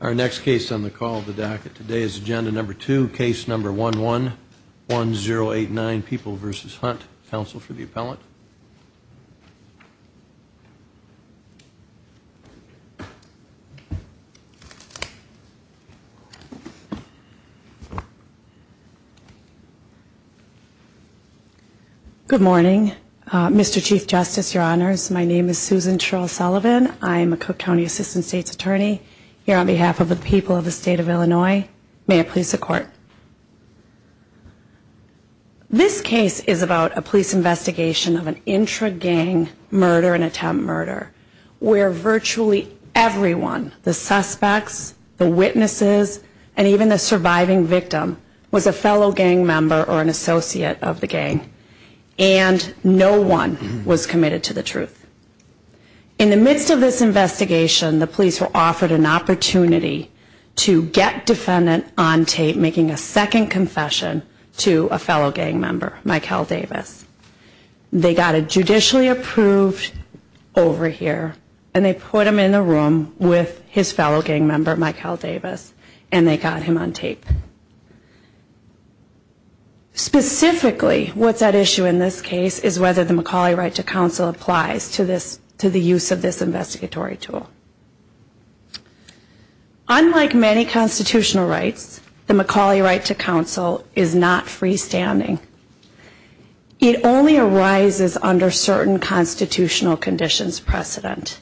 Our next case on the call of the docket today is agenda number two, case number 111089, People v. Hunt. Counsel for the appellant. Good morning, Mr. Chief Justice, Your Honors. My name is Susan Cheryl Sullivan. I'm a Cook County Assistant State's Attorney. Here on behalf of the people of the State of Illinois, may I please the Court. This case is about a police investigation of an intra-gang murder and attempt murder, where virtually everyone, the suspects, the witnesses, and even the surviving victim, was a fellow gang member or an associate of the gang, and no one was committed to the truth. In the midst of this investigation, the police were offered an opportunity to get defendant on tape making a second confession to a fellow gang member, Mikel Davis. They got a judicially approved over here, and they put him in a room with his fellow gang member, Mikel Davis, and they got him on tape. Specifically, what's at issue in this case is whether the McCauley right to counsel applies to the use of this investigatory tool. Unlike many constitutional rights, the McCauley right to counsel is not freestanding. It only arises under certain constitutional conditions precedent.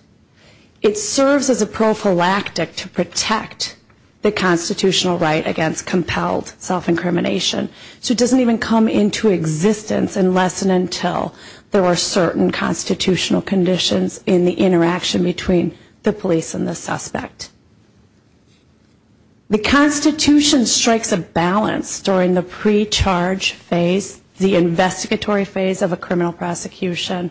It serves as a prophylactic to protect the constitutional right against compelled self-incrimination, so it doesn't even come into existence unless and until there are certain constitutional conditions in the interaction between the police and the suspect. The Constitution strikes a balance during the pre-charge phase, the investigatory phase of a criminal prosecution.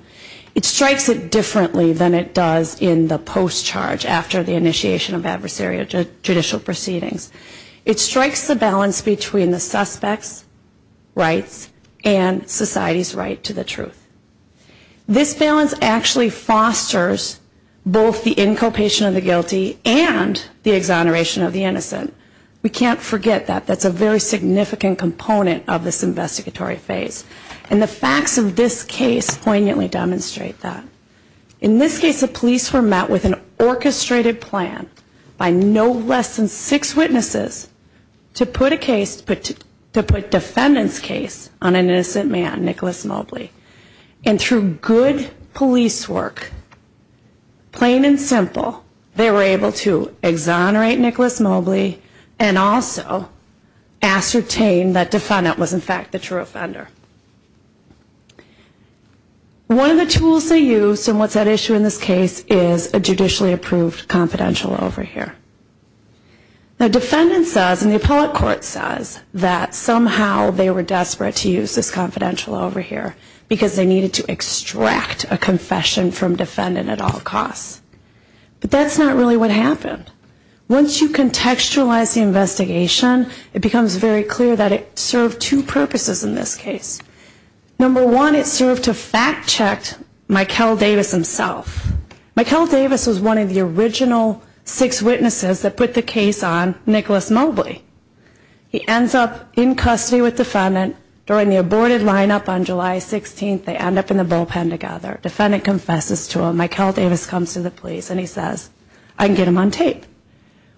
It strikes it differently than it does in the post-charge after the initiation of adversarial judicial proceedings. It strikes the balance between the suspect's rights and society's right to the truth. This balance actually fosters both the inculpation of the guilty and the exoneration of the innocent. We can't forget that. That's a very significant component of this investigatory phase. And the facts of this case poignantly demonstrate that. In this case, the police were met with an orchestrated plan by no less than six witnesses to put a defendant's case on an innocent man, Nicholas Mobley. And through good police work, plain and simple, they were able to exonerate Nicholas Mobley and also ascertain that defendant was in fact the true offender. One of the tools they used in what's at issue in this case is a judicially approved confidential overhear. The defendant says, and the appellate court says, that somehow they were desperate to use this confidential overhear because they needed to extract a confession from defendant at all costs. But that's not really what happened. Once you contextualize the investigation, it becomes very clear that it served two purposes in this case. Number one, it served to fact check Mikel Davis himself. Mikel Davis was one of the original six witnesses that put the case on Nicholas Mobley. He ends up in custody with defendant. During the aborted lineup on July 16th, they end up in the bullpen together. Defendant confesses to him. Mikel Davis comes to the police and he says, I can get him on tape.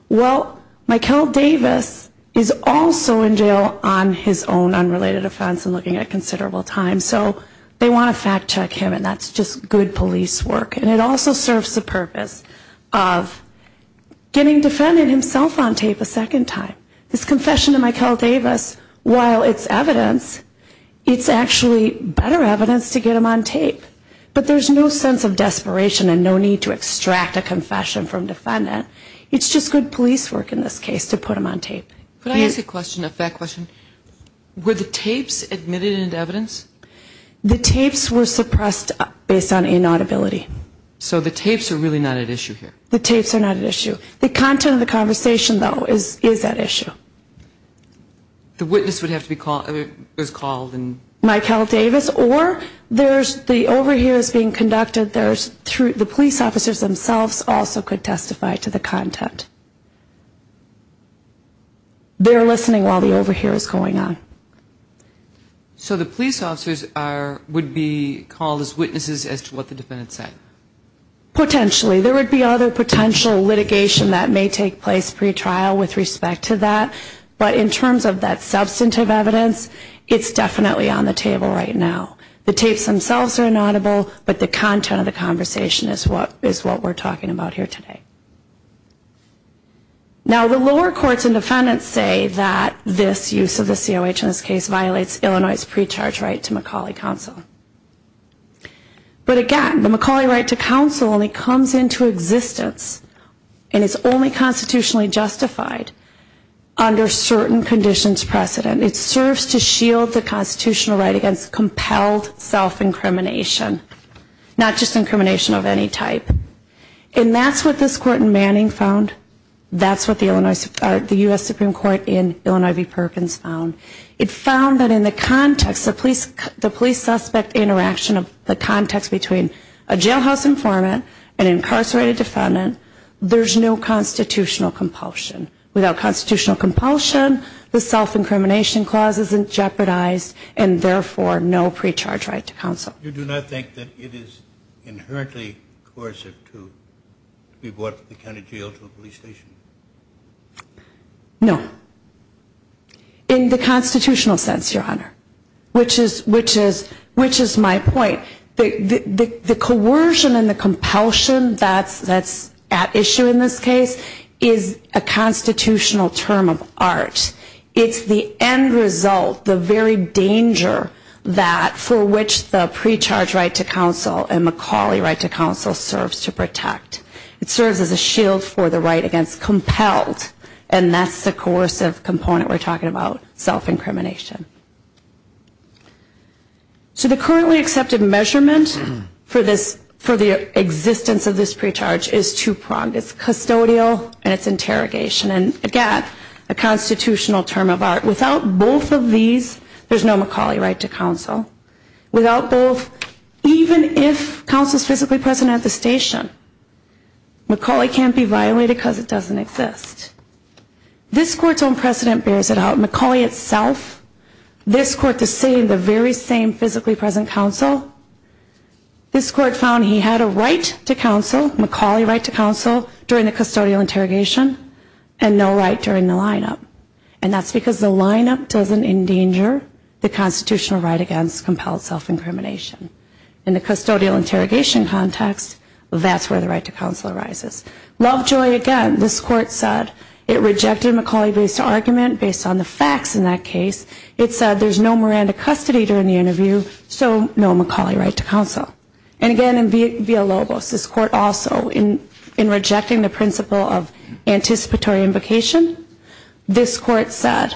Well, Mikel Davis is also in jail on his own unrelated offense and looking at considerable time. So they want to fact check him, and that's just good police work. And it also serves the purpose of getting defendant himself on tape a second time. This confession of Mikel Davis, while it's evidence, it's actually better evidence to get him on tape. But there's no sense of desperation and no need to extract a confession from defendant. It's just good police work in this case to put him on tape. Could I ask a question, a fact question? Were the tapes admitted into evidence? The tapes were suppressed based on inaudibility. So the tapes are really not at issue here? The tapes are not at issue. The content of the conversation, though, is at issue. The witness would have to be called? Mikel Davis or there's the overhears being conducted through the police officers themselves also could testify to the content. They're listening while the overhear is going on. So the police officers would be called as witnesses as to what the defendant said? Potentially. There would be other potential litigation that may take place pre-trial with respect to that. But in terms of that substantive evidence, it's definitely on the table right now. The tapes themselves are inaudible, but the content of the conversation is what we're talking about here today. Now, the lower courts and defendants say that this use of the COH in this case violates Illinois' pre-charge right to McCauley Counsel. But again, the McCauley right to counsel only comes into existence and is only constitutionally justified under certain conditions precedent. It serves to shield the constitutional right against compelled self-incrimination, not just incrimination of any type. And that's what this court in Manning found. That's what the U.S. Supreme Court in Illinois v. Perkins found. It found that in the context of the police suspect interaction of the context between a jailhouse informant, an incarcerated defendant, there's no constitutional compulsion. Without constitutional compulsion, the self-incrimination clause isn't jeopardized and therefore no pre-charge right to counsel. You do not think that it is inherently coercive to be brought to the county jail to a police station? No. In the constitutional sense, Your Honor, which is my point. The coercion and the compulsion that's at issue in this case is a constitutional term of art. It's the end result, the very danger that for which the pre-charge right to counsel and McCauley right to counsel serves to protect. It serves as a shield for the right against compelled, and that's the coercive component we're talking about, self-incrimination. So the currently accepted measurement for the existence of this pre-charge is two-pronged. It's custodial and it's interrogation. And, again, a constitutional term of art. Without both of these, there's no McCauley right to counsel. Without both, even if counsel is physically present at the station, McCauley can't be violated because it doesn't exist. This Court's own precedent bears it out. McCauley itself, this Court, the same, the very same physically present counsel, this Court found he had a right to counsel, McCauley right to counsel, during the custodial interrogation, and no right during the lineup. And that's because the lineup doesn't endanger the constitutional right against compelled self-incrimination. In the custodial interrogation context, that's where the right to counsel arises. Lovejoy, again, this Court said it rejected McCauley-based argument based on the facts in that case. It said there's no Miranda custody during the interview, so no McCauley right to counsel. And, again, in Villalobos, this Court also, in rejecting the principle of anticipatory invocation, this Court said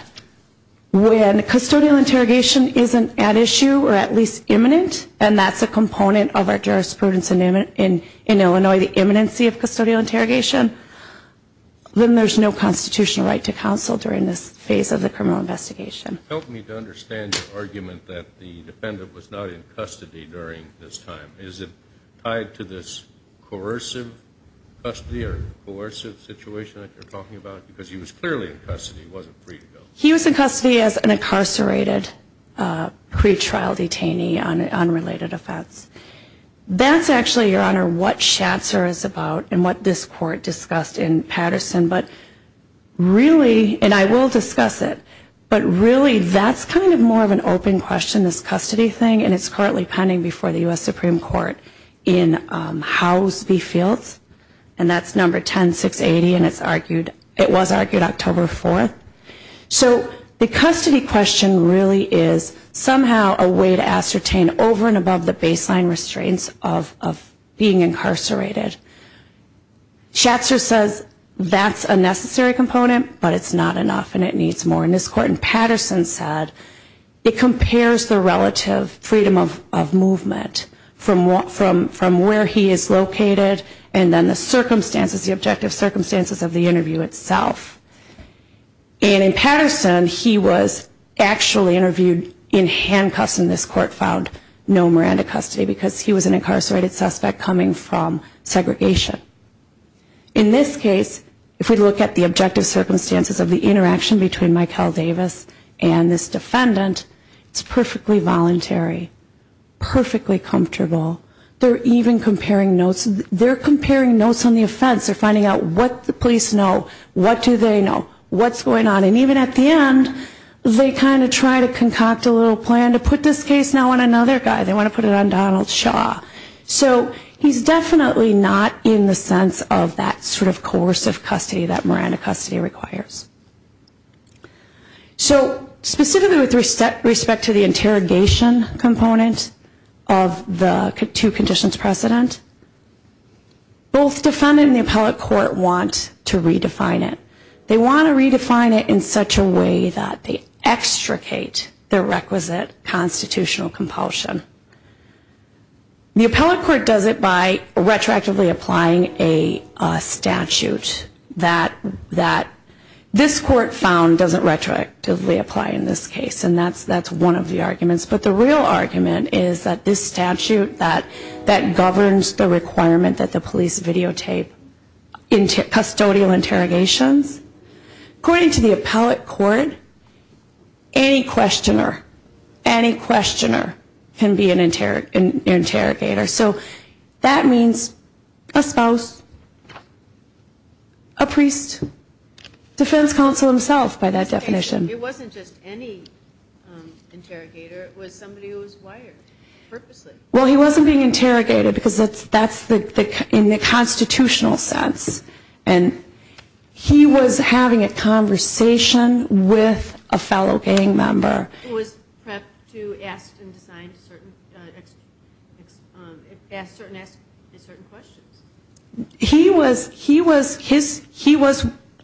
when custodial interrogation isn't at issue or at least imminent, and that's a component of our jurisprudence in Illinois, the imminency of custodial interrogation, then there's no constitutional right to counsel during this phase of the criminal investigation. Help me to understand your argument that the defendant was not in custody during this time. Is it tied to this coercive custody or coercive situation that you're talking about because he was clearly in custody, he wasn't free to go? He was in custody as an incarcerated pretrial detainee on unrelated offense. That's actually, Your Honor, what Schatzer is about and what this Court discussed in Patterson, but really, and I will discuss it, but really that's kind of more of an open question, this custody thing, and it's currently pending before the U.S. Supreme Court in Howes v. Fields, and that's number 10-680, and it was argued October 4th. So the custody question really is somehow a way to ascertain over and above the baseline restraints of being incarcerated. Schatzer says that's a necessary component, but it's not enough and it needs more in this Court, and Patterson said it compares the relative freedom of movement from where he is located and then the circumstances, the objective circumstances of the interview itself. And in Patterson, he was actually interviewed in handcuffs and this Court found no Miranda custody because he was an incarcerated suspect coming from segregation. In this case, if we look at the objective circumstances of the interaction between Michael Davis and this defendant, it's perfectly voluntary, perfectly comfortable. They're even comparing notes. They're comparing notes on the offense. They're finding out what the police know, what do they know, what's going on. And even at the end, they kind of try to concoct a little plan to put this case now on another guy. They want to put it on Donald Shaw. So he's definitely not in the sense of that sort of coercive custody that Miranda custody requires. So specifically with respect to the interrogation component of the two conditions precedent, both defendant and the appellate court want to redefine it. They want to redefine it in such a way that they extricate the requisite constitutional compulsion. The appellate court does it by retroactively applying a statute that this court found doesn't retroactively apply in this case. And that's one of the arguments. But the real argument is that this statute that governs the requirement that the police videotape custodial interrogations, according to the appellate court, any questioner, any questioner can be an interrogator. So that means a spouse, a priest, defense counsel himself by that definition. It wasn't just any interrogator. It was somebody who was wired purposely. Well, he wasn't being interrogated because that's in the constitutional sense. And he was having a conversation with a fellow gang member. It was prepped to ask certain questions. He was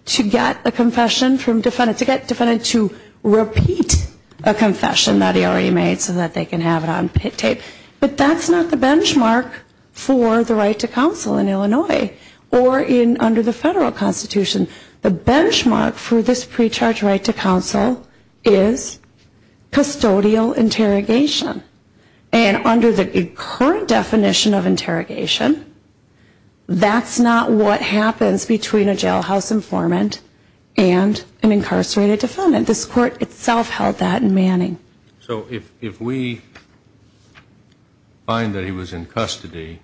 to get a confession from defendant, to get defendant to repeat a confession that he already made so that they can have it on tape. But that's not the benchmark for the right to counsel in Illinois. Or under the federal constitution, the benchmark for this pre-charge right to counsel is custodial interrogation. And under the current definition of interrogation, that's not what happens between a jailhouse informant and an incarcerated defendant. This court itself held that in Manning. So if we find that he was in custody,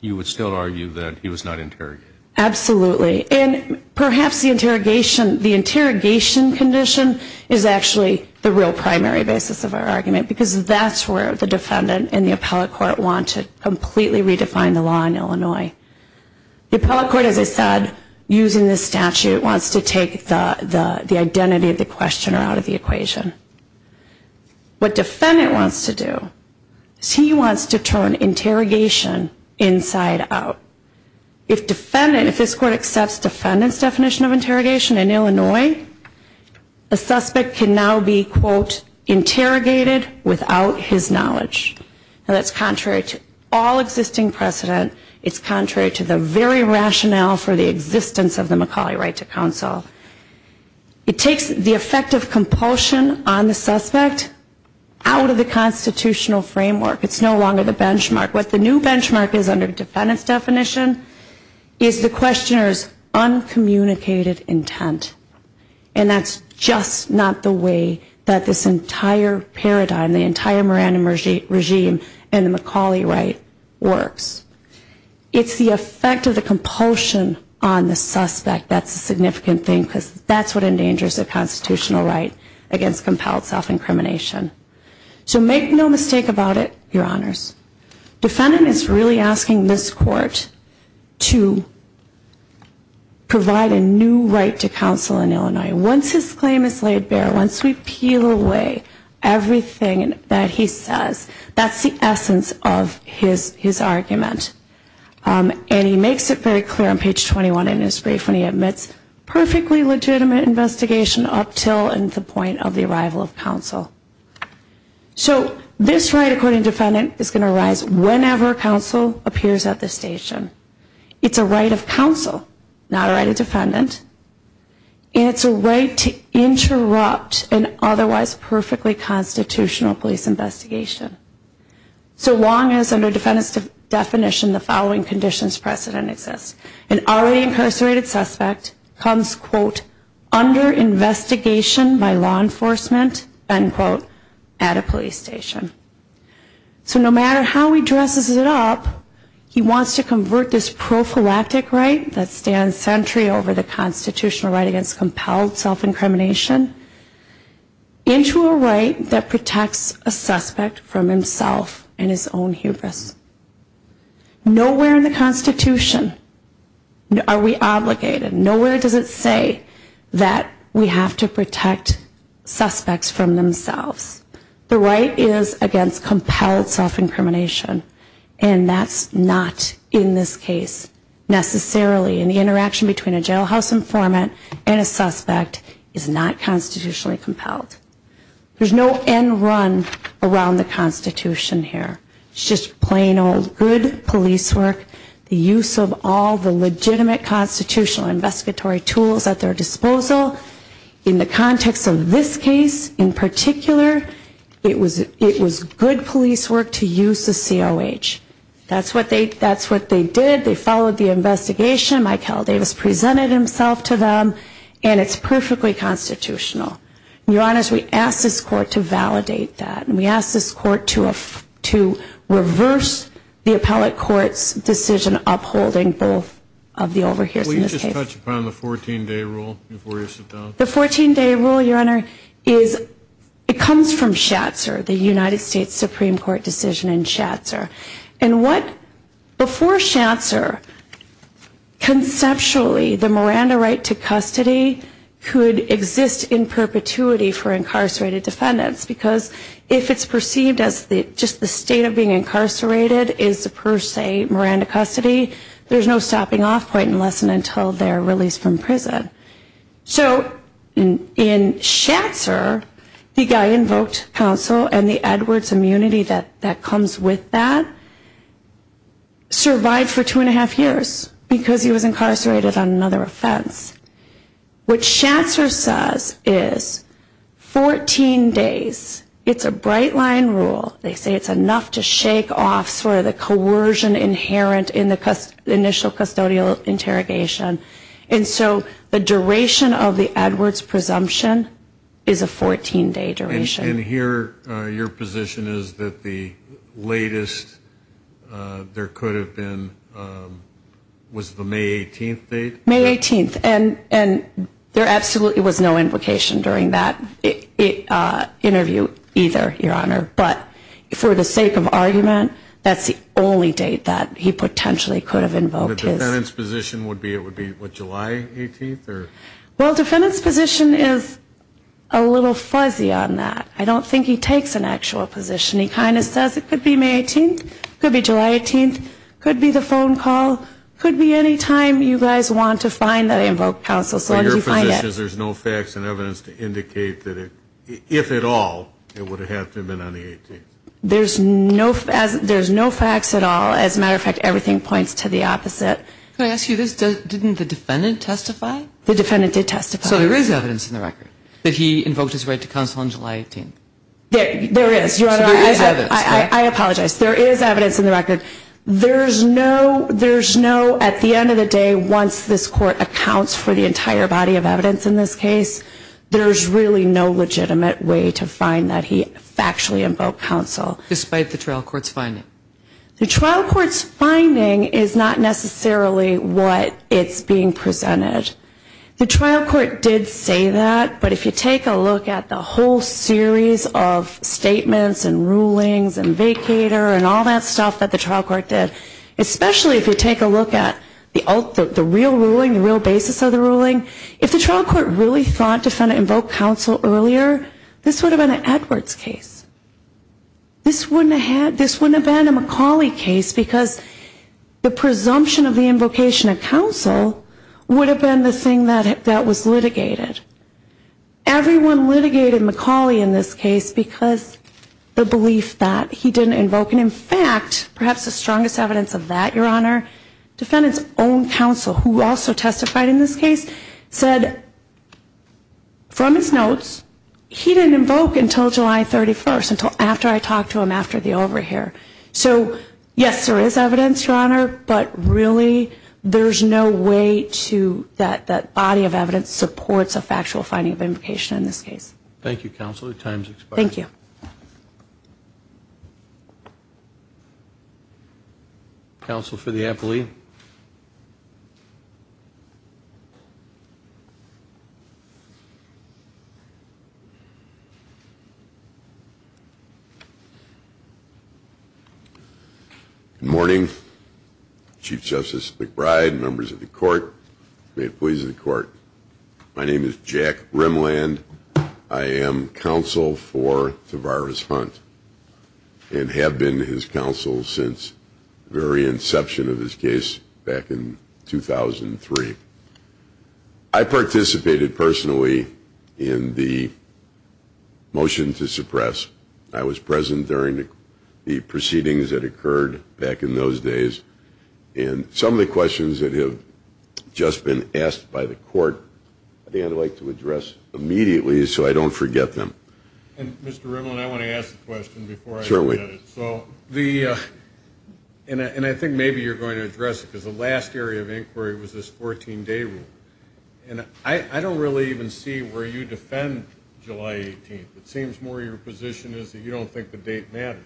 you would still argue that he was not interrogated? Absolutely. And perhaps the interrogation condition is actually the real primary basis of our argument. Because that's where the defendant and the appellate court want to completely redefine the law in Illinois. The appellate court, as I said, using this statute, wants to take the identity of the questioner out of the equation. What defendant wants to do is he wants to turn interrogation inside out. If defendant, if this court accepts defendant's definition of interrogation in Illinois, a suspect can now be, quote, interrogated without his knowledge. And that's contrary to all existing precedent, it's contrary to the very rationale for the existence of the McCauley right to counsel. It takes the effect of compulsion on the suspect out of the constitutional framework. It's no longer the benchmark. What the new benchmark is under defendant's definition is the questioner's uncommunicated intent. And that's just not the way that this entire paradigm, the entire Moran regime and the McCauley right works. It's the effect of the compulsion on the suspect that's a significant thing, because that's what endangers the constitutional right against compelled self-incrimination. So make no mistake about it, Your Honors. Defendant is really asking this court to provide a new right to counsel. Once his claim is laid bare, once we peel away everything that he says, that's the essence of his argument. And he makes it very clear on page 21 in his brief when he admits perfectly legitimate investigation up until the point of the arrival of counsel. So this right according to defendant is going to arise whenever counsel appears at the station. It's a right of counsel, not a right of defendant. And it's a right to interrupt an otherwise perfectly constitutional police investigation. So long as under defendant's definition the following conditions precedent exists. An already incarcerated suspect comes, quote, under investigation by law enforcement, end quote, at a police station. So no matter how he dresses it up, he wants to convert this prophylactic right that stands sentry over the constitutional right against compelled self-incrimination into a right that protects a suspect from himself and his own hubris. Nowhere in the Constitution are we obligated. Nowhere does it say that we have to protect suspects from themselves. The right is against compelled self-incrimination, and that's not in this case necessarily. And the interaction between a jailhouse informant and a suspect is not constitutionally compelled. There's no end run around the Constitution here. It's just plain old good police work, the use of all the legitimate constitutional investigatory tools at their disposal. In the context of this case in particular, it was good police work to use the COH. That's what they did. They followed the investigation. Mike Heldavis presented himself to them. And it's perfectly constitutional. Your Honor, we ask this Court to validate that. And we ask this Court to reverse the appellate court's decision upholding both of the overhears in this case. Can we just touch upon the 14-day rule before you sit down? The 14-day rule, Your Honor, it comes from Schatzer, the United States Supreme Court decision in Schatzer. And what, before Schatzer, conceptually, the Miranda right to custody could exist in person. There's no perpetuity for incarcerated defendants. Because if it's perceived as just the state of being incarcerated is per se Miranda custody, there's no stopping off point unless and until they're released from prison. So in Schatzer, the guy invoked counsel, and the Edwards immunity that comes with that, survived for two and a half years because he was incarcerated on another offense. What Schatzer says is 14 days, it's a bright line rule. They say it's enough to shake off sort of the coercion inherent in the initial custodial interrogation. And so the duration of the Edwards presumption is a 14-day duration. And here your position is that the latest there could have been was the May 18th date? May 18th, and there absolutely was no invocation during that interview either, Your Honor. But for the sake of argument, that's the only date that he potentially could have invoked his. The defendant's position would be July 18th? Well, defendant's position is a little fuzzy on that. I don't think he takes an actual position. He kind of says it could be May 18th, could be July 18th, could be the phone call, could be any time you guys want to find that I invoked counsel. So your position is there's no facts and evidence to indicate that it, if at all, it would have to have been on the 18th? There's no facts at all. As a matter of fact, everything points to the opposite. Can I ask you this? Didn't the defendant testify? The defendant did testify. So there is evidence in the record that he invoked his right to counsel on July 18th? There is, Your Honor. I apologize. There is evidence in the record. There's no, at the end of the day, once this Court accounts for the entire body of evidence in this case, there's really no legitimate way to find that he factually invoked counsel. Despite the trial court's finding? The trial court's finding is not necessarily what it's being presented. The trial court did say that, but if you take a look at the whole series of statements and rulings and vacator and all that stuff that the trial court did, especially if you take a look at the real ruling, the real basis of the ruling, if the trial court really thought the defendant invoked counsel earlier, this would have been an Edwards case. This wouldn't have been a McCauley case because the presumption of the invocation of counsel would have been the thing that was litigated. Everyone litigated McCauley in this case because the belief that he didn't invoke any counsel. In fact, perhaps the strongest evidence of that, Your Honor, defendant's own counsel, who also testified in this case, said from his notes, he didn't invoke until July 31st, after I talked to him after the overhear. So yes, there is evidence, Your Honor, but really there's no way that that body of evidence supports a factual finding of invocation in this case. Thank you, counsel. Your time has expired. Thank you. Counsel for the appellee. Good morning. Chief Justice McBride, members of the court, may it please the court, my name is Jack Rimland. I am counsel for Tavares Hunt and have been his counsel since the very inception of this case back in 2003. I participated personally in the motion to suppress. I was present during the proceedings that occurred back in those days, and some of the questions that have just been asked by the court, I think I'd like to address immediately so I don't forget them. And Mr. Rimland, I want to ask a question before I forget it. And I think maybe you're going to address it, because the last area of inquiry was this 14-day rule. And I don't really even see where you defend July 18th. It seems more your position is that you don't think the date matters.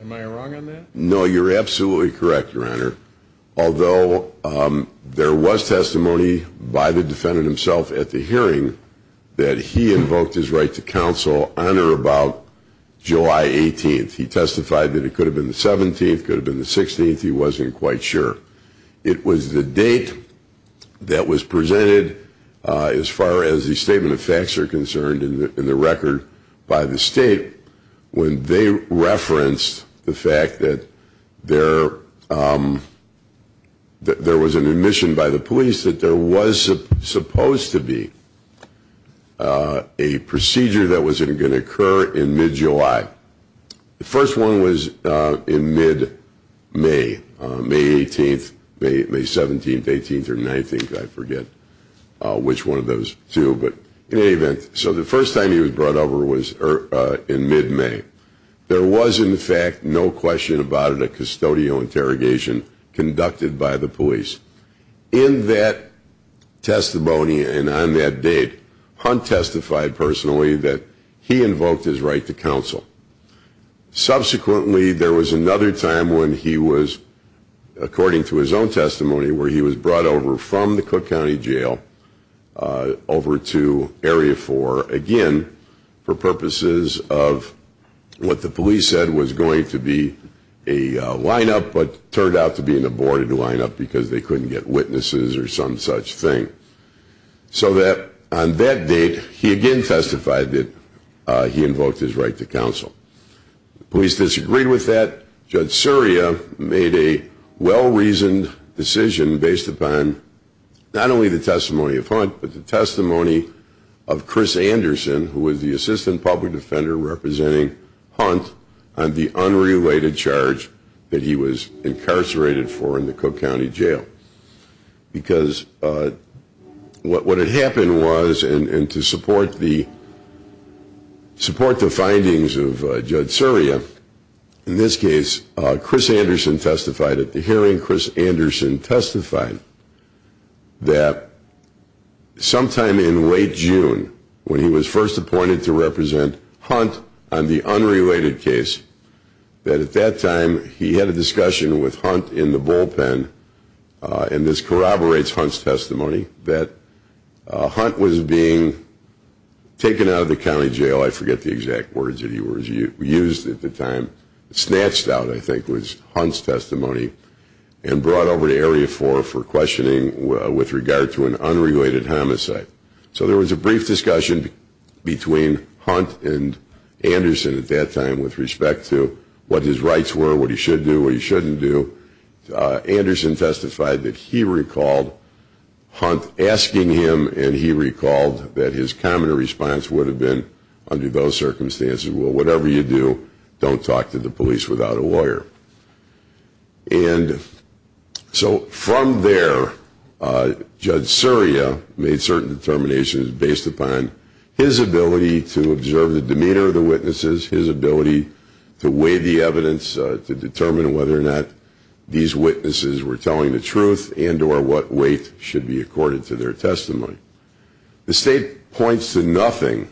Am I wrong on that? No, you're absolutely correct, Your Honor. Although there was testimony by the defendant himself at the hearing that he invoked his right to counsel on or about July 18th. He testified that it could have been the 17th, could have been the 16th, he wasn't quite sure. It was the date that was presented as far as the statement of facts are concerned in the record by the state when they referenced the fact that there was an admission by the police that there was supposed to be a procedure that was going to occur in mid-July. The first one was in mid-May, May 18th, May 17th, 18th, or 19th, I forget which one of those two. So the first time he was brought over was in mid-May. There was, in fact, no question about it, a custodial interrogation conducted by the police. In that testimony and on that date, Hunt testified personally that he invoked his right to counsel. Subsequently, there was another time when he was, according to his own testimony, where he was brought over from the Cook County Jail over to Area 4, again, for purposes of what the police said was going to be a lineup, but turned out to be an aborted lineup because they couldn't get witnesses or some such thing. So that, on that date, he again testified that he invoked his right to counsel. The police disagreed with that. Judge Surya made a well-reasoned decision based upon not only the testimony of Hunt, but the testimony of Chris Anderson, who was the assistant public defender representing Hunt, on the unrelated charge that he was incarcerated for in the Cook County Jail. Because what had happened was, and to support the findings of Judge Surya, in this case, Chris Anderson testified at the hearing. Chris Anderson testified that sometime in late June, when he was first appointed to represent Hunt on the unrelated case, that at that time he had a discussion with Hunt in the bullpen, and this corroborates Hunt's testimony, that Hunt was being taken out of the county jail. I forget the exact words that he used at the time. Snatched out, I think, was Hunt's testimony, and brought over to Area 4 for questioning with regard to an unrelated homicide. So there was a brief discussion between Hunt and Anderson at that time with respect to what his rights were, what he should do, what he shouldn't do. Anderson testified that he recalled Hunt asking him, and he recalled that his common response would have been, under those circumstances, well, whatever you do, don't talk to the police without a lawyer. And so from there, Judge Surya made certain determinations based upon his ability to observe the demeanor of the witnesses, his ability to weigh the evidence, to determine whether or not these witnesses were telling the truth and or what weight should be accorded to their testimony. The State points to nothing,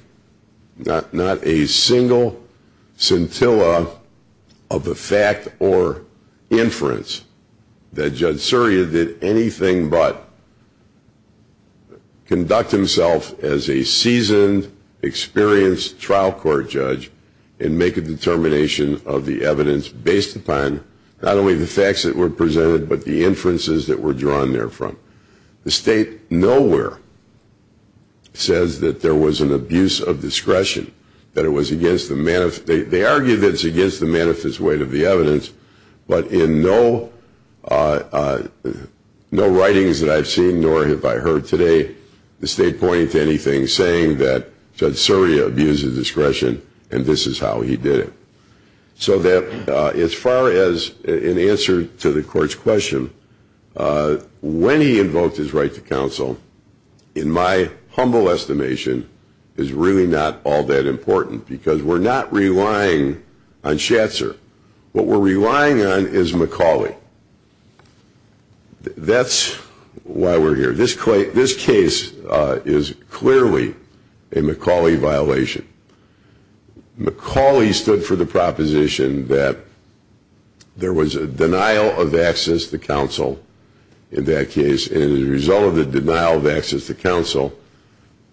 not a single scintilla of the fact or inference, that Judge Surya did anything but conduct himself as a seasoned, experienced trial court judge and make a determination of the evidence based upon not only the facts that were presented, but the inferences that were drawn therefrom. The State nowhere says that there was an abuse of discretion, that it was against the manifest weight of the evidence, but in no writings that I've seen nor have I heard today, the State pointing to anything saying that Judge Surya abused his discretion and this is how he did it. So that as far as an answer to the court's question, when he invoked his right to counsel, in my humble estimation, is really not all that important because we're not relying on Schatzer. What we're relying on is McCauley. That's why we're here. This case is clearly a McCauley violation. McCauley stood for the proposition that there was a denial of access to counsel in that case and as a result of the denial of access to counsel,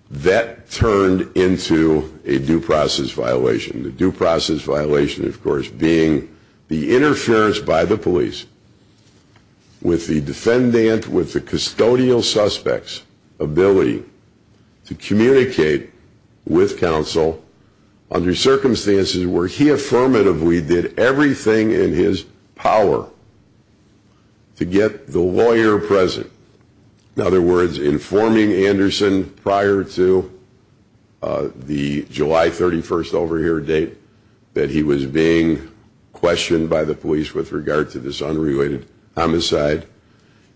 that turned into a due process violation. The due process violation, of course, being the interference by the police with the defendant, with the custodial suspect's ability to communicate with counsel under circumstances where he affirmatively did everything in his power to get the lawyer present. In other words, informing Anderson prior to the July 31st over here date that he was being questioned by the police with regard to this unrelated homicide.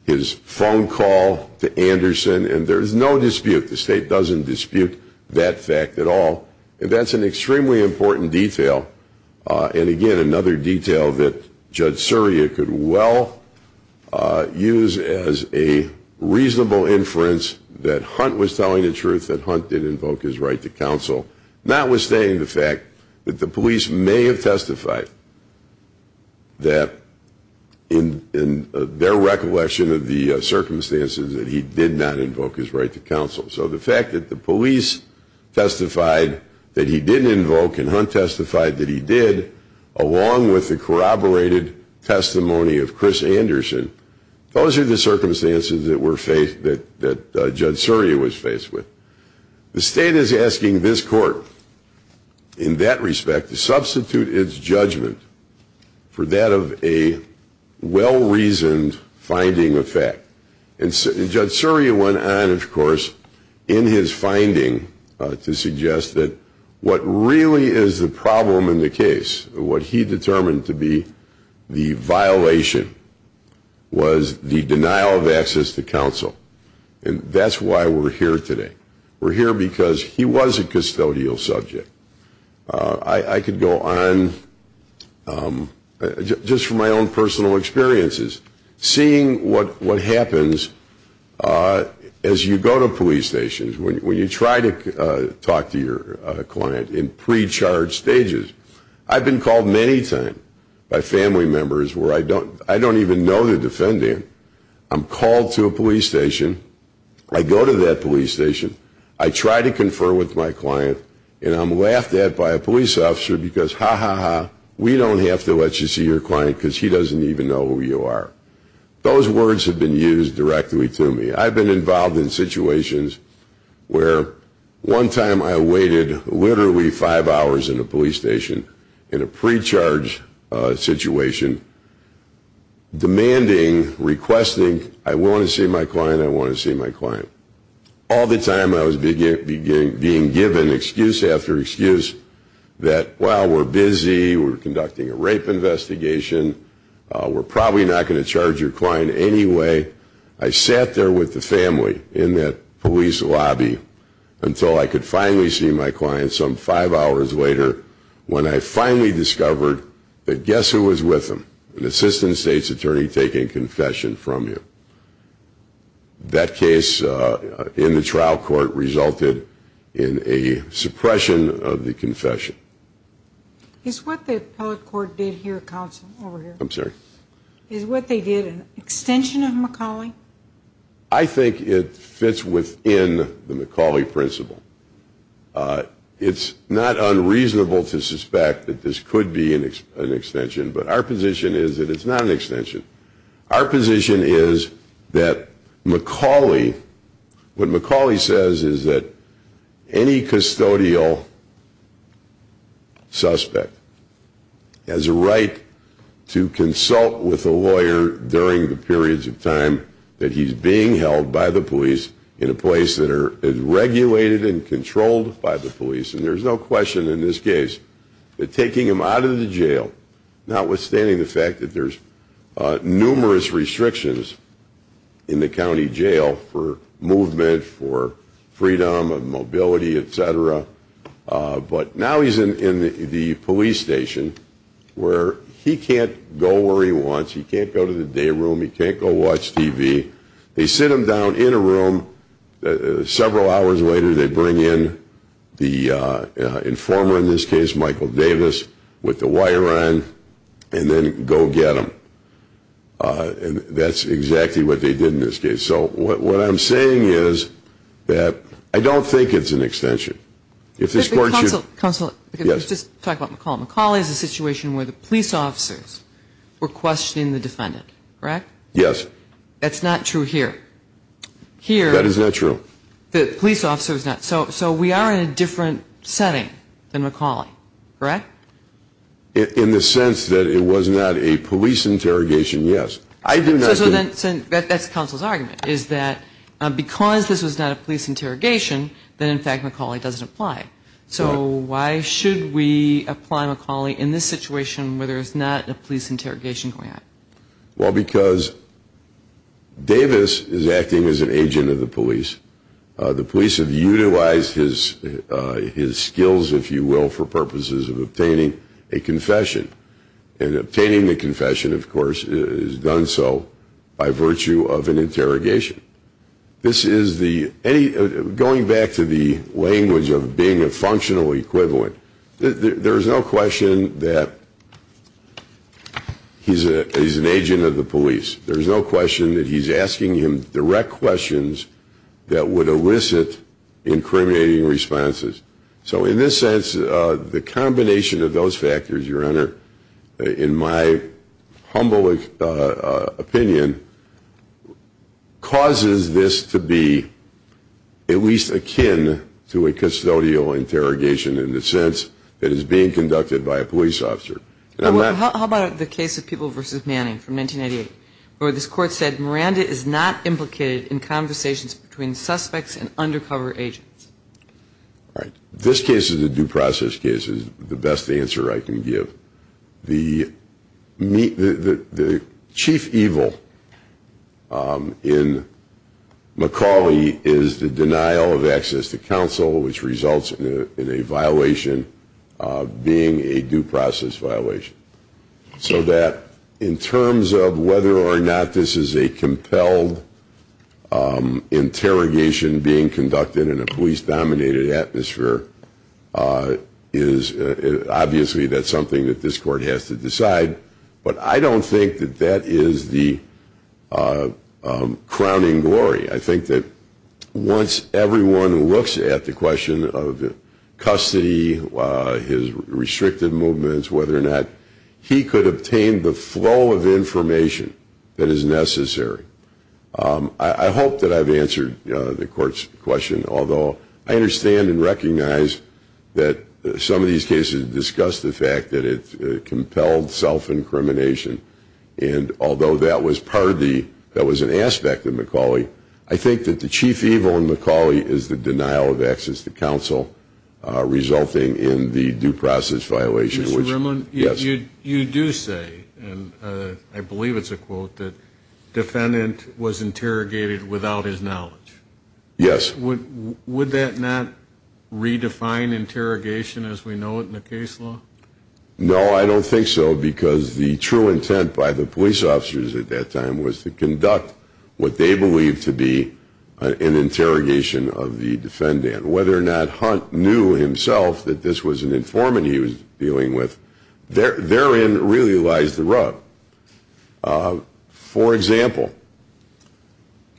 His phone call to Anderson and there's no dispute. The State doesn't dispute that fact at all and that's an extremely important detail and, again, another detail that Judge Surya could well use as a reasonable inference that Hunt was telling the truth, that Hunt did invoke his right to counsel, notwithstanding the fact that the police may have testified that in their recollection of the circumstances that he did not invoke his right to counsel. So the fact that the police testified that he didn't invoke and Hunt testified that he did, along with the corroborated testimony of Chris Anderson, those are the circumstances that Judge Surya was faced with. The State is asking this Court, in that respect, to substitute its judgment for that of a well-reasoned finding of fact. And Judge Surya went on, of course, in his finding to suggest that what really is the problem in the case, what he determined to be the violation, was the denial of access to counsel. And that's why we're here today. We're here because he was a custodial subject. I could go on, just from my own personal experiences, seeing what happens as you go to police stations, when you try to talk to your client in pre-charge stages. I've been called many times by family members where I don't even know the defendant. I'm called to a police station. I go to that police station. I try to confer with my client. And I'm laughed at by a police officer because, ha, ha, ha, we don't have to let you see your client because he doesn't even know who you are. Those words have been used directly to me. I've been involved in situations where one time I waited literally five hours in a police station in a pre-charge situation, demanding, requesting, I want to see my client, I want to see my client. All the time I was being given excuse after excuse that, wow, we're busy, we're conducting a rape investigation, we're probably not going to charge your client anyway. I sat there with the family in that police lobby until I could finally see my client some five hours later when I finally discovered that guess who was with him? An assistant state's attorney taking confession from you. That case in the trial court resulted in a suppression of the confession. Is what the appellate court did here, counsel, over here? I'm sorry? Is what they did an extension of McCauley? I think it fits within the McCauley principle. It's not unreasonable to suspect that this could be an extension, but our position is that it's not an extension. Our position is that McCauley, what McCauley says is that any custodial suspect has a right to consult with a lawyer during the periods of time that he's being held by the police in a place that is regulated and controlled by the police. And there's no question in this case that taking him out of the jail, notwithstanding the fact that there's numerous restrictions in the county jail for movement, for freedom of mobility, et cetera, but now he's in the police station where he can't go where he wants. He can't go to the day room. He can't go watch TV. They sit him down in a room. Several hours later they bring in the informer in this case, Michael Davis, with the wire on and then go get him. And that's exactly what they did in this case. So what I'm saying is that I don't think it's an extension. Counsel, let's just talk about McCauley. McCauley is a situation where the police officers were questioning the defendant, correct? Yes. That's not true here. That is not true. The police officer is not. So we are in a different setting than McCauley, correct? In the sense that it was not a police interrogation, yes. That's counsel's argument, is that because this was not a police interrogation, then in fact McCauley doesn't apply. So why should we apply McCauley in this situation where there's not a police interrogation going on? Well, because Davis is acting as an agent of the police. The police have utilized his skills, if you will, for purposes of obtaining a confession. And obtaining the confession, of course, is done so by virtue of an interrogation. This is the any going back to the language of being a functional equivalent. There's no question that he's an agent of the police. There's no question that he's asking him direct questions that would elicit incriminating responses. So in this sense, the combination of those factors, Your Honor, in my humble opinion, causes this to be at least akin to a custodial interrogation in the sense that it's being conducted by a police officer. How about the case of People v. Manning from 1998, where this court said Miranda is not implicated in conversations between suspects and undercover agents? This case is a due process case is the best answer I can give. The chief evil in McCauley is the denial of access to counsel, which results in a violation being a due process violation. So that in terms of whether or not this is a compelled interrogation being conducted in a police-dominated atmosphere, obviously that's something that this court has to decide. But I don't think that that is the crowning glory. I think that once everyone looks at the question of custody, his restricted movements, whether or not he could obtain the flow of information that is necessary, I hope that I've answered the court's question. Although I understand and recognize that some of these cases discuss the fact that it's compelled self-incrimination, and although that was an aspect of McCauley, I think that the chief evil in McCauley is the denial of access to counsel resulting in the due process violation. Mr. Rimmel, you do say, and I believe it's a quote, that defendant was interrogated without his knowledge. Yes. Would that not redefine interrogation as we know it in the case law? No, I don't think so, because the true intent by the police officers at that time was to conduct what they believed to be an interrogation of the defendant. Whether or not Hunt knew himself that this was an informant he was dealing with, therein really lies the rub. For example,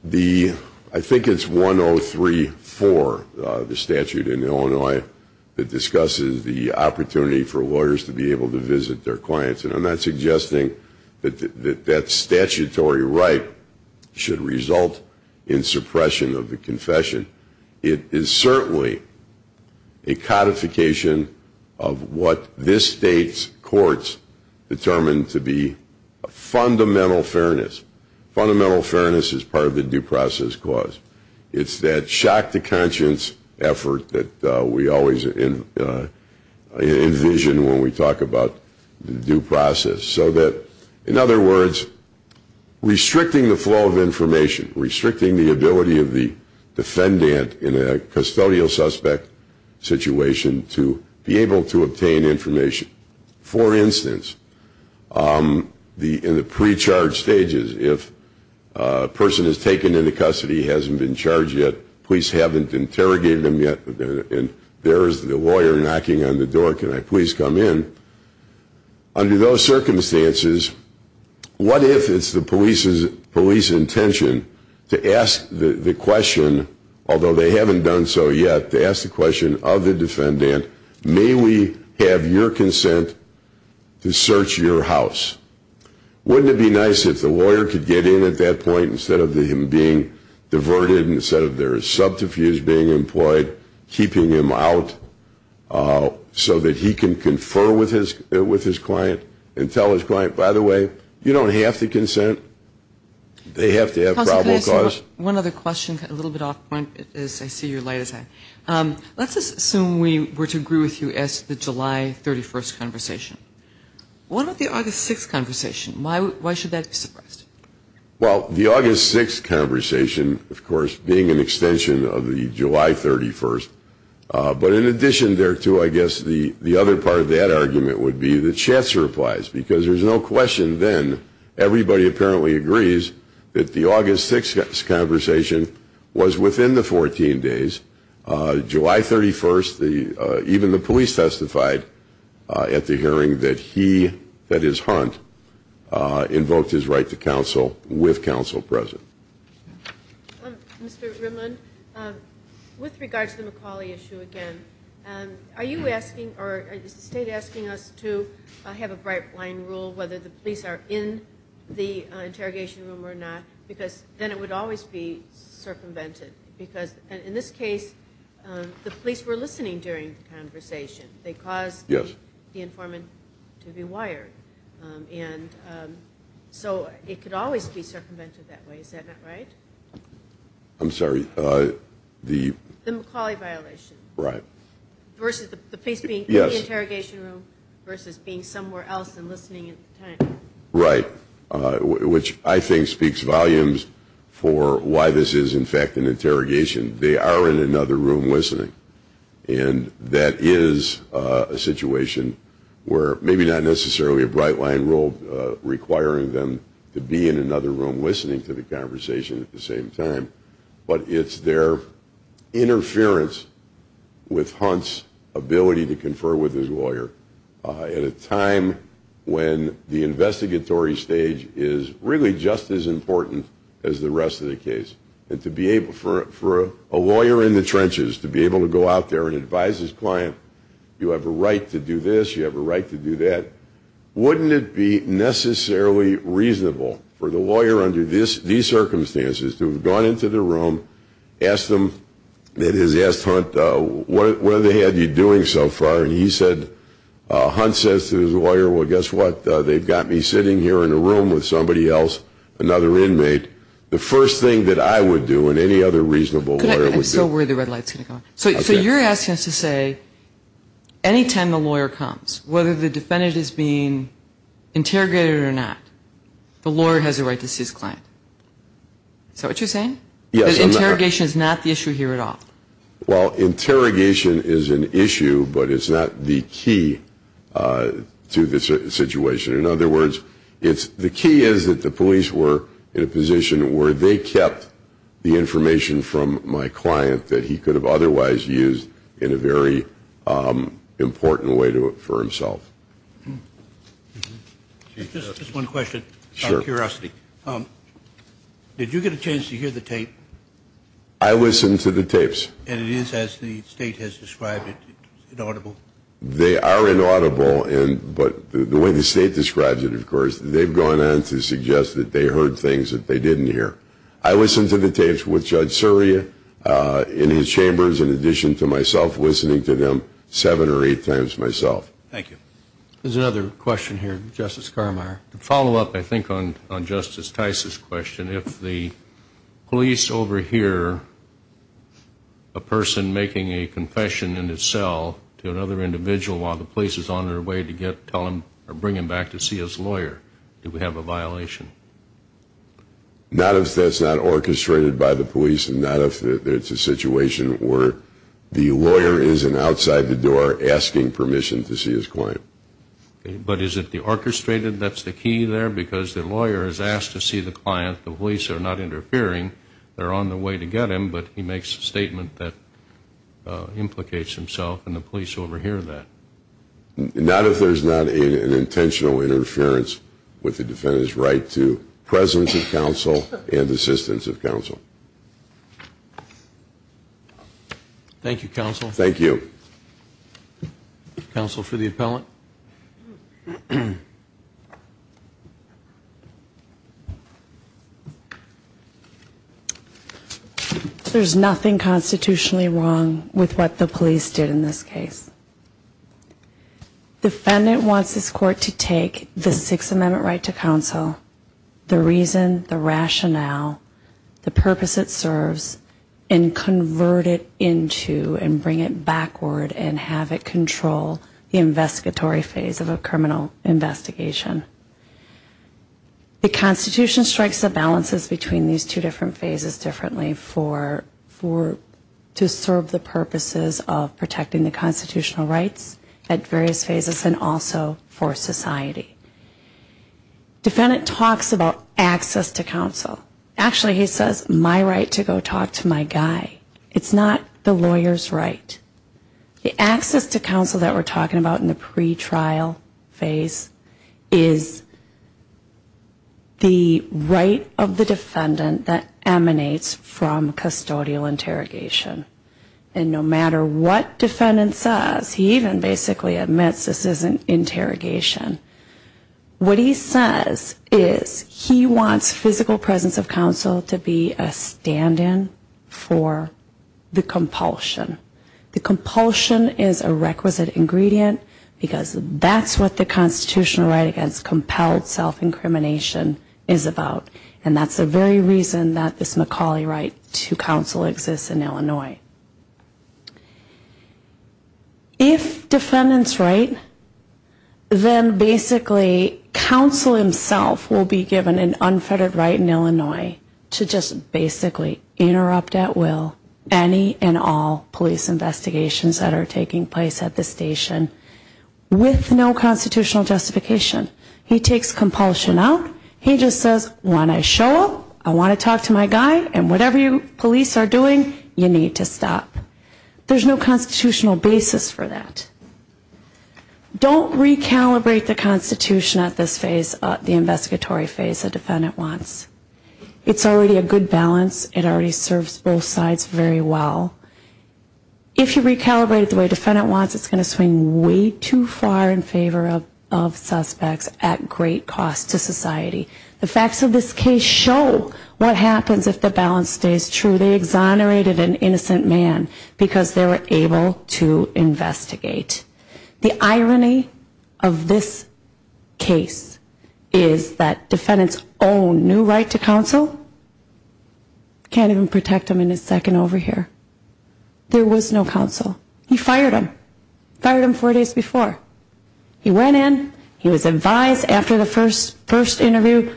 I think it's 103.4, the statute in Illinois, that discusses the opportunity for lawyers to be able to visit their clients, and I'm not suggesting that that statutory right should result in suppression of the confession. It is certainly a codification of what this state's courts determine to be a fundamental fairness. Fundamental fairness is part of the due process clause. It's that shock to conscience effort that we always envision when we talk about due process. In other words, restricting the flow of information, restricting the ability of the defendant in a custodial suspect situation to be able to obtain information. For instance, in the pre-charge stages, if a person is taken into custody, hasn't been charged yet, police haven't interrogated them yet, and there is the lawyer knocking on the door, can I please come in? Under those circumstances, what if it's the police's intention to ask the question, although they haven't done so yet, to ask the question of the defendant, may we have your consent to search your house? Wouldn't it be nice if the lawyer could get in at that point instead of him being diverted, instead of their subterfuge being employed, keeping him out so that he can confer with his client and tell his client, by the way, you don't have to consent. They have to have probable cause. One other question, a little bit off point as I see your light is on. Let's assume we were to agree with you as to the July 31st conversation. What about the August 6th conversation? Why should that be suppressed? Well, the August 6th conversation, of course, being an extension of the July 31st, but in addition there to, I guess, the other part of that argument would be the chats replies, because there's no question then, everybody apparently agrees that the August 6th conversation was within the 14 days. July 31st, even the police testified at the hearing that he, that is Hunt, invoked his right to counsel with counsel present. Mr. Rimland, with regard to the McAuley issue again, are you asking or is the state asking us to have a bright line rule whether the police are in the interrogation room or not? Because then it would always be circumvented, because in this case the police were listening during the conversation. They caused the informant to be wired, and so it could always be circumvented that way. Is that not right? I'm sorry. The McAuley violation. Right. Versus the police being in the interrogation room versus being somewhere else and listening at the time. Right, which I think speaks volumes for why this is, in fact, an interrogation. They are in another room listening, and that is a situation where maybe not necessarily a bright line rule requiring them to be in another room listening to the conversation at the same time, but it's their interference with Hunt's ability to confer with his lawyer at a time when the investigatory stage is really just as important as the rest of the case. For a lawyer in the trenches to be able to go out there and advise his client, you have a right to do this, you have a right to do that, wouldn't it be necessarily reasonable for the lawyer under these circumstances to have gone into the room, asked him, that is, asked Hunt, what have they had you doing so far? And he said, Hunt says to his lawyer, well, guess what, they've got me sitting here in a room with somebody else, another inmate. The first thing that I would do and any other reasonable lawyer would do. I'm so worried the red light is going to come on. So you're asking us to say any time the lawyer comes, whether the defendant is being interrogated or not, the lawyer has a right to see his client. Is that what you're saying? Yes. Because interrogation is not the issue here at all. Well, interrogation is an issue, but it's not the key to this situation. In other words, the key is that the police were in a position where they kept the information from my client that he could have otherwise used in a very important way for himself. Just one question. Sure. Out of curiosity, did you get a chance to hear the tape? I listened to the tapes. And it is, as the State has described it, inaudible? They are inaudible, but the way the State describes it, of course, they've gone on to suggest that they heard things that they didn't hear. I listened to the tapes with Judge Surya in his chambers, in addition to myself listening to them seven or eight times myself. Thank you. There's another question here, Justice Carmeier. To follow up, I think, on Justice Tice's question, if the police overhear a person making a confession in his cell to another individual while the police is on their way to bring him back to see his lawyer, do we have a violation? Not if that's not orchestrated by the police and not if it's a situation where the lawyer isn't outside the door asking permission to see his client. But is it the orchestrated, that's the key there? Because the lawyer has asked to see the client. The police are not interfering. They're on their way to get him, but he makes a statement that implicates himself, and the police overhear that. Not if there's not an intentional interference with the defendant's right to presence of counsel and assistance of counsel. Thank you, Counsel. Thank you. Counsel for the appellant. There's nothing constitutionally wrong with what the police did in this case. The defendant wants this court to take the Sixth Amendment right to counsel, the reason, the rationale, the purpose it serves, and convert it into and bring it backward and have it control the investigatory phase of a criminal investigation. The Constitution strikes the balances between these two different phases differently for, to serve the purposes of protecting the constitutional rights at various phases and also for society. Defendant talks about access to counsel. Actually, he says, my right to go talk to my guy. It's not the lawyer's right. The access to counsel that we're talking about in the pretrial phase is the right of the defendant that emanates from custodial interrogation. And no matter what defendant says, he even basically admits this isn't interrogation. What he says is he wants physical presence of counsel to be a stand-in for the compulsion. The compulsion is a requisite ingredient because that's what the constitutional right against compelled self-incrimination is about. And that's the very reason that this McCauley right to counsel exists in Illinois. If defendant's right, then basically counsel himself will be given an unfettered right in Illinois to just basically interrupt at will any and all police investigations that are taking place at the station with no constitutional justification. He takes compulsion out. He just says, when I show up, I want to talk to my guy, and whatever you police are doing, you need to stop. There's no constitutional basis for that. Don't recalibrate the Constitution at this phase, the investigatory phase, a defendant wants. It's already a good balance. It already serves both sides very well. If you recalibrate it the way defendant wants, it's going to swing way too far in favor of suspects at great cost to society. The facts of this case show what happens if the balance stays true. They exonerated an innocent man because they were able to investigate. The irony of this case is that defendant's own new right to counsel can't even protect him in a second over here. There was no counsel. He fired him, fired him four days before. He went in, he was advised after the first interview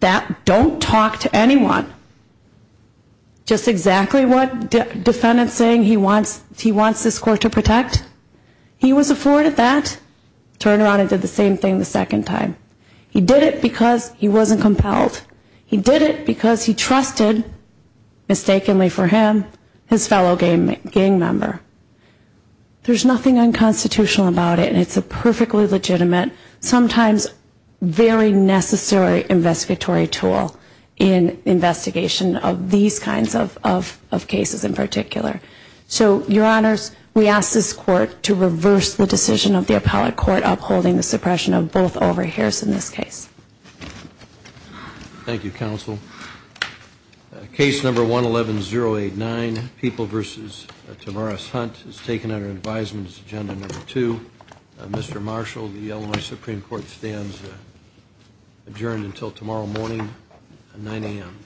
that don't talk to anyone. Just exactly what defendant's saying he wants this court to protect, he was afforded that. Turned around and did the same thing the second time. He did it because he wasn't compelled. He did it because he trusted, mistakenly for him, his fellow gang member. There's nothing unconstitutional about it. It's a perfectly legitimate, sometimes very necessary investigatory tool in investigation of these kinds of cases in particular. So, your honors, we ask this court to reverse the decision of the appellate court upholding the suppression of both over here in this case. Thank you, counsel. Case number 111089, People v. Tamaris Hunt, is taken under advisement as agenda number two. Mr. Marshall, the Illinois Supreme Court stands adjourned until tomorrow morning at 9 a.m.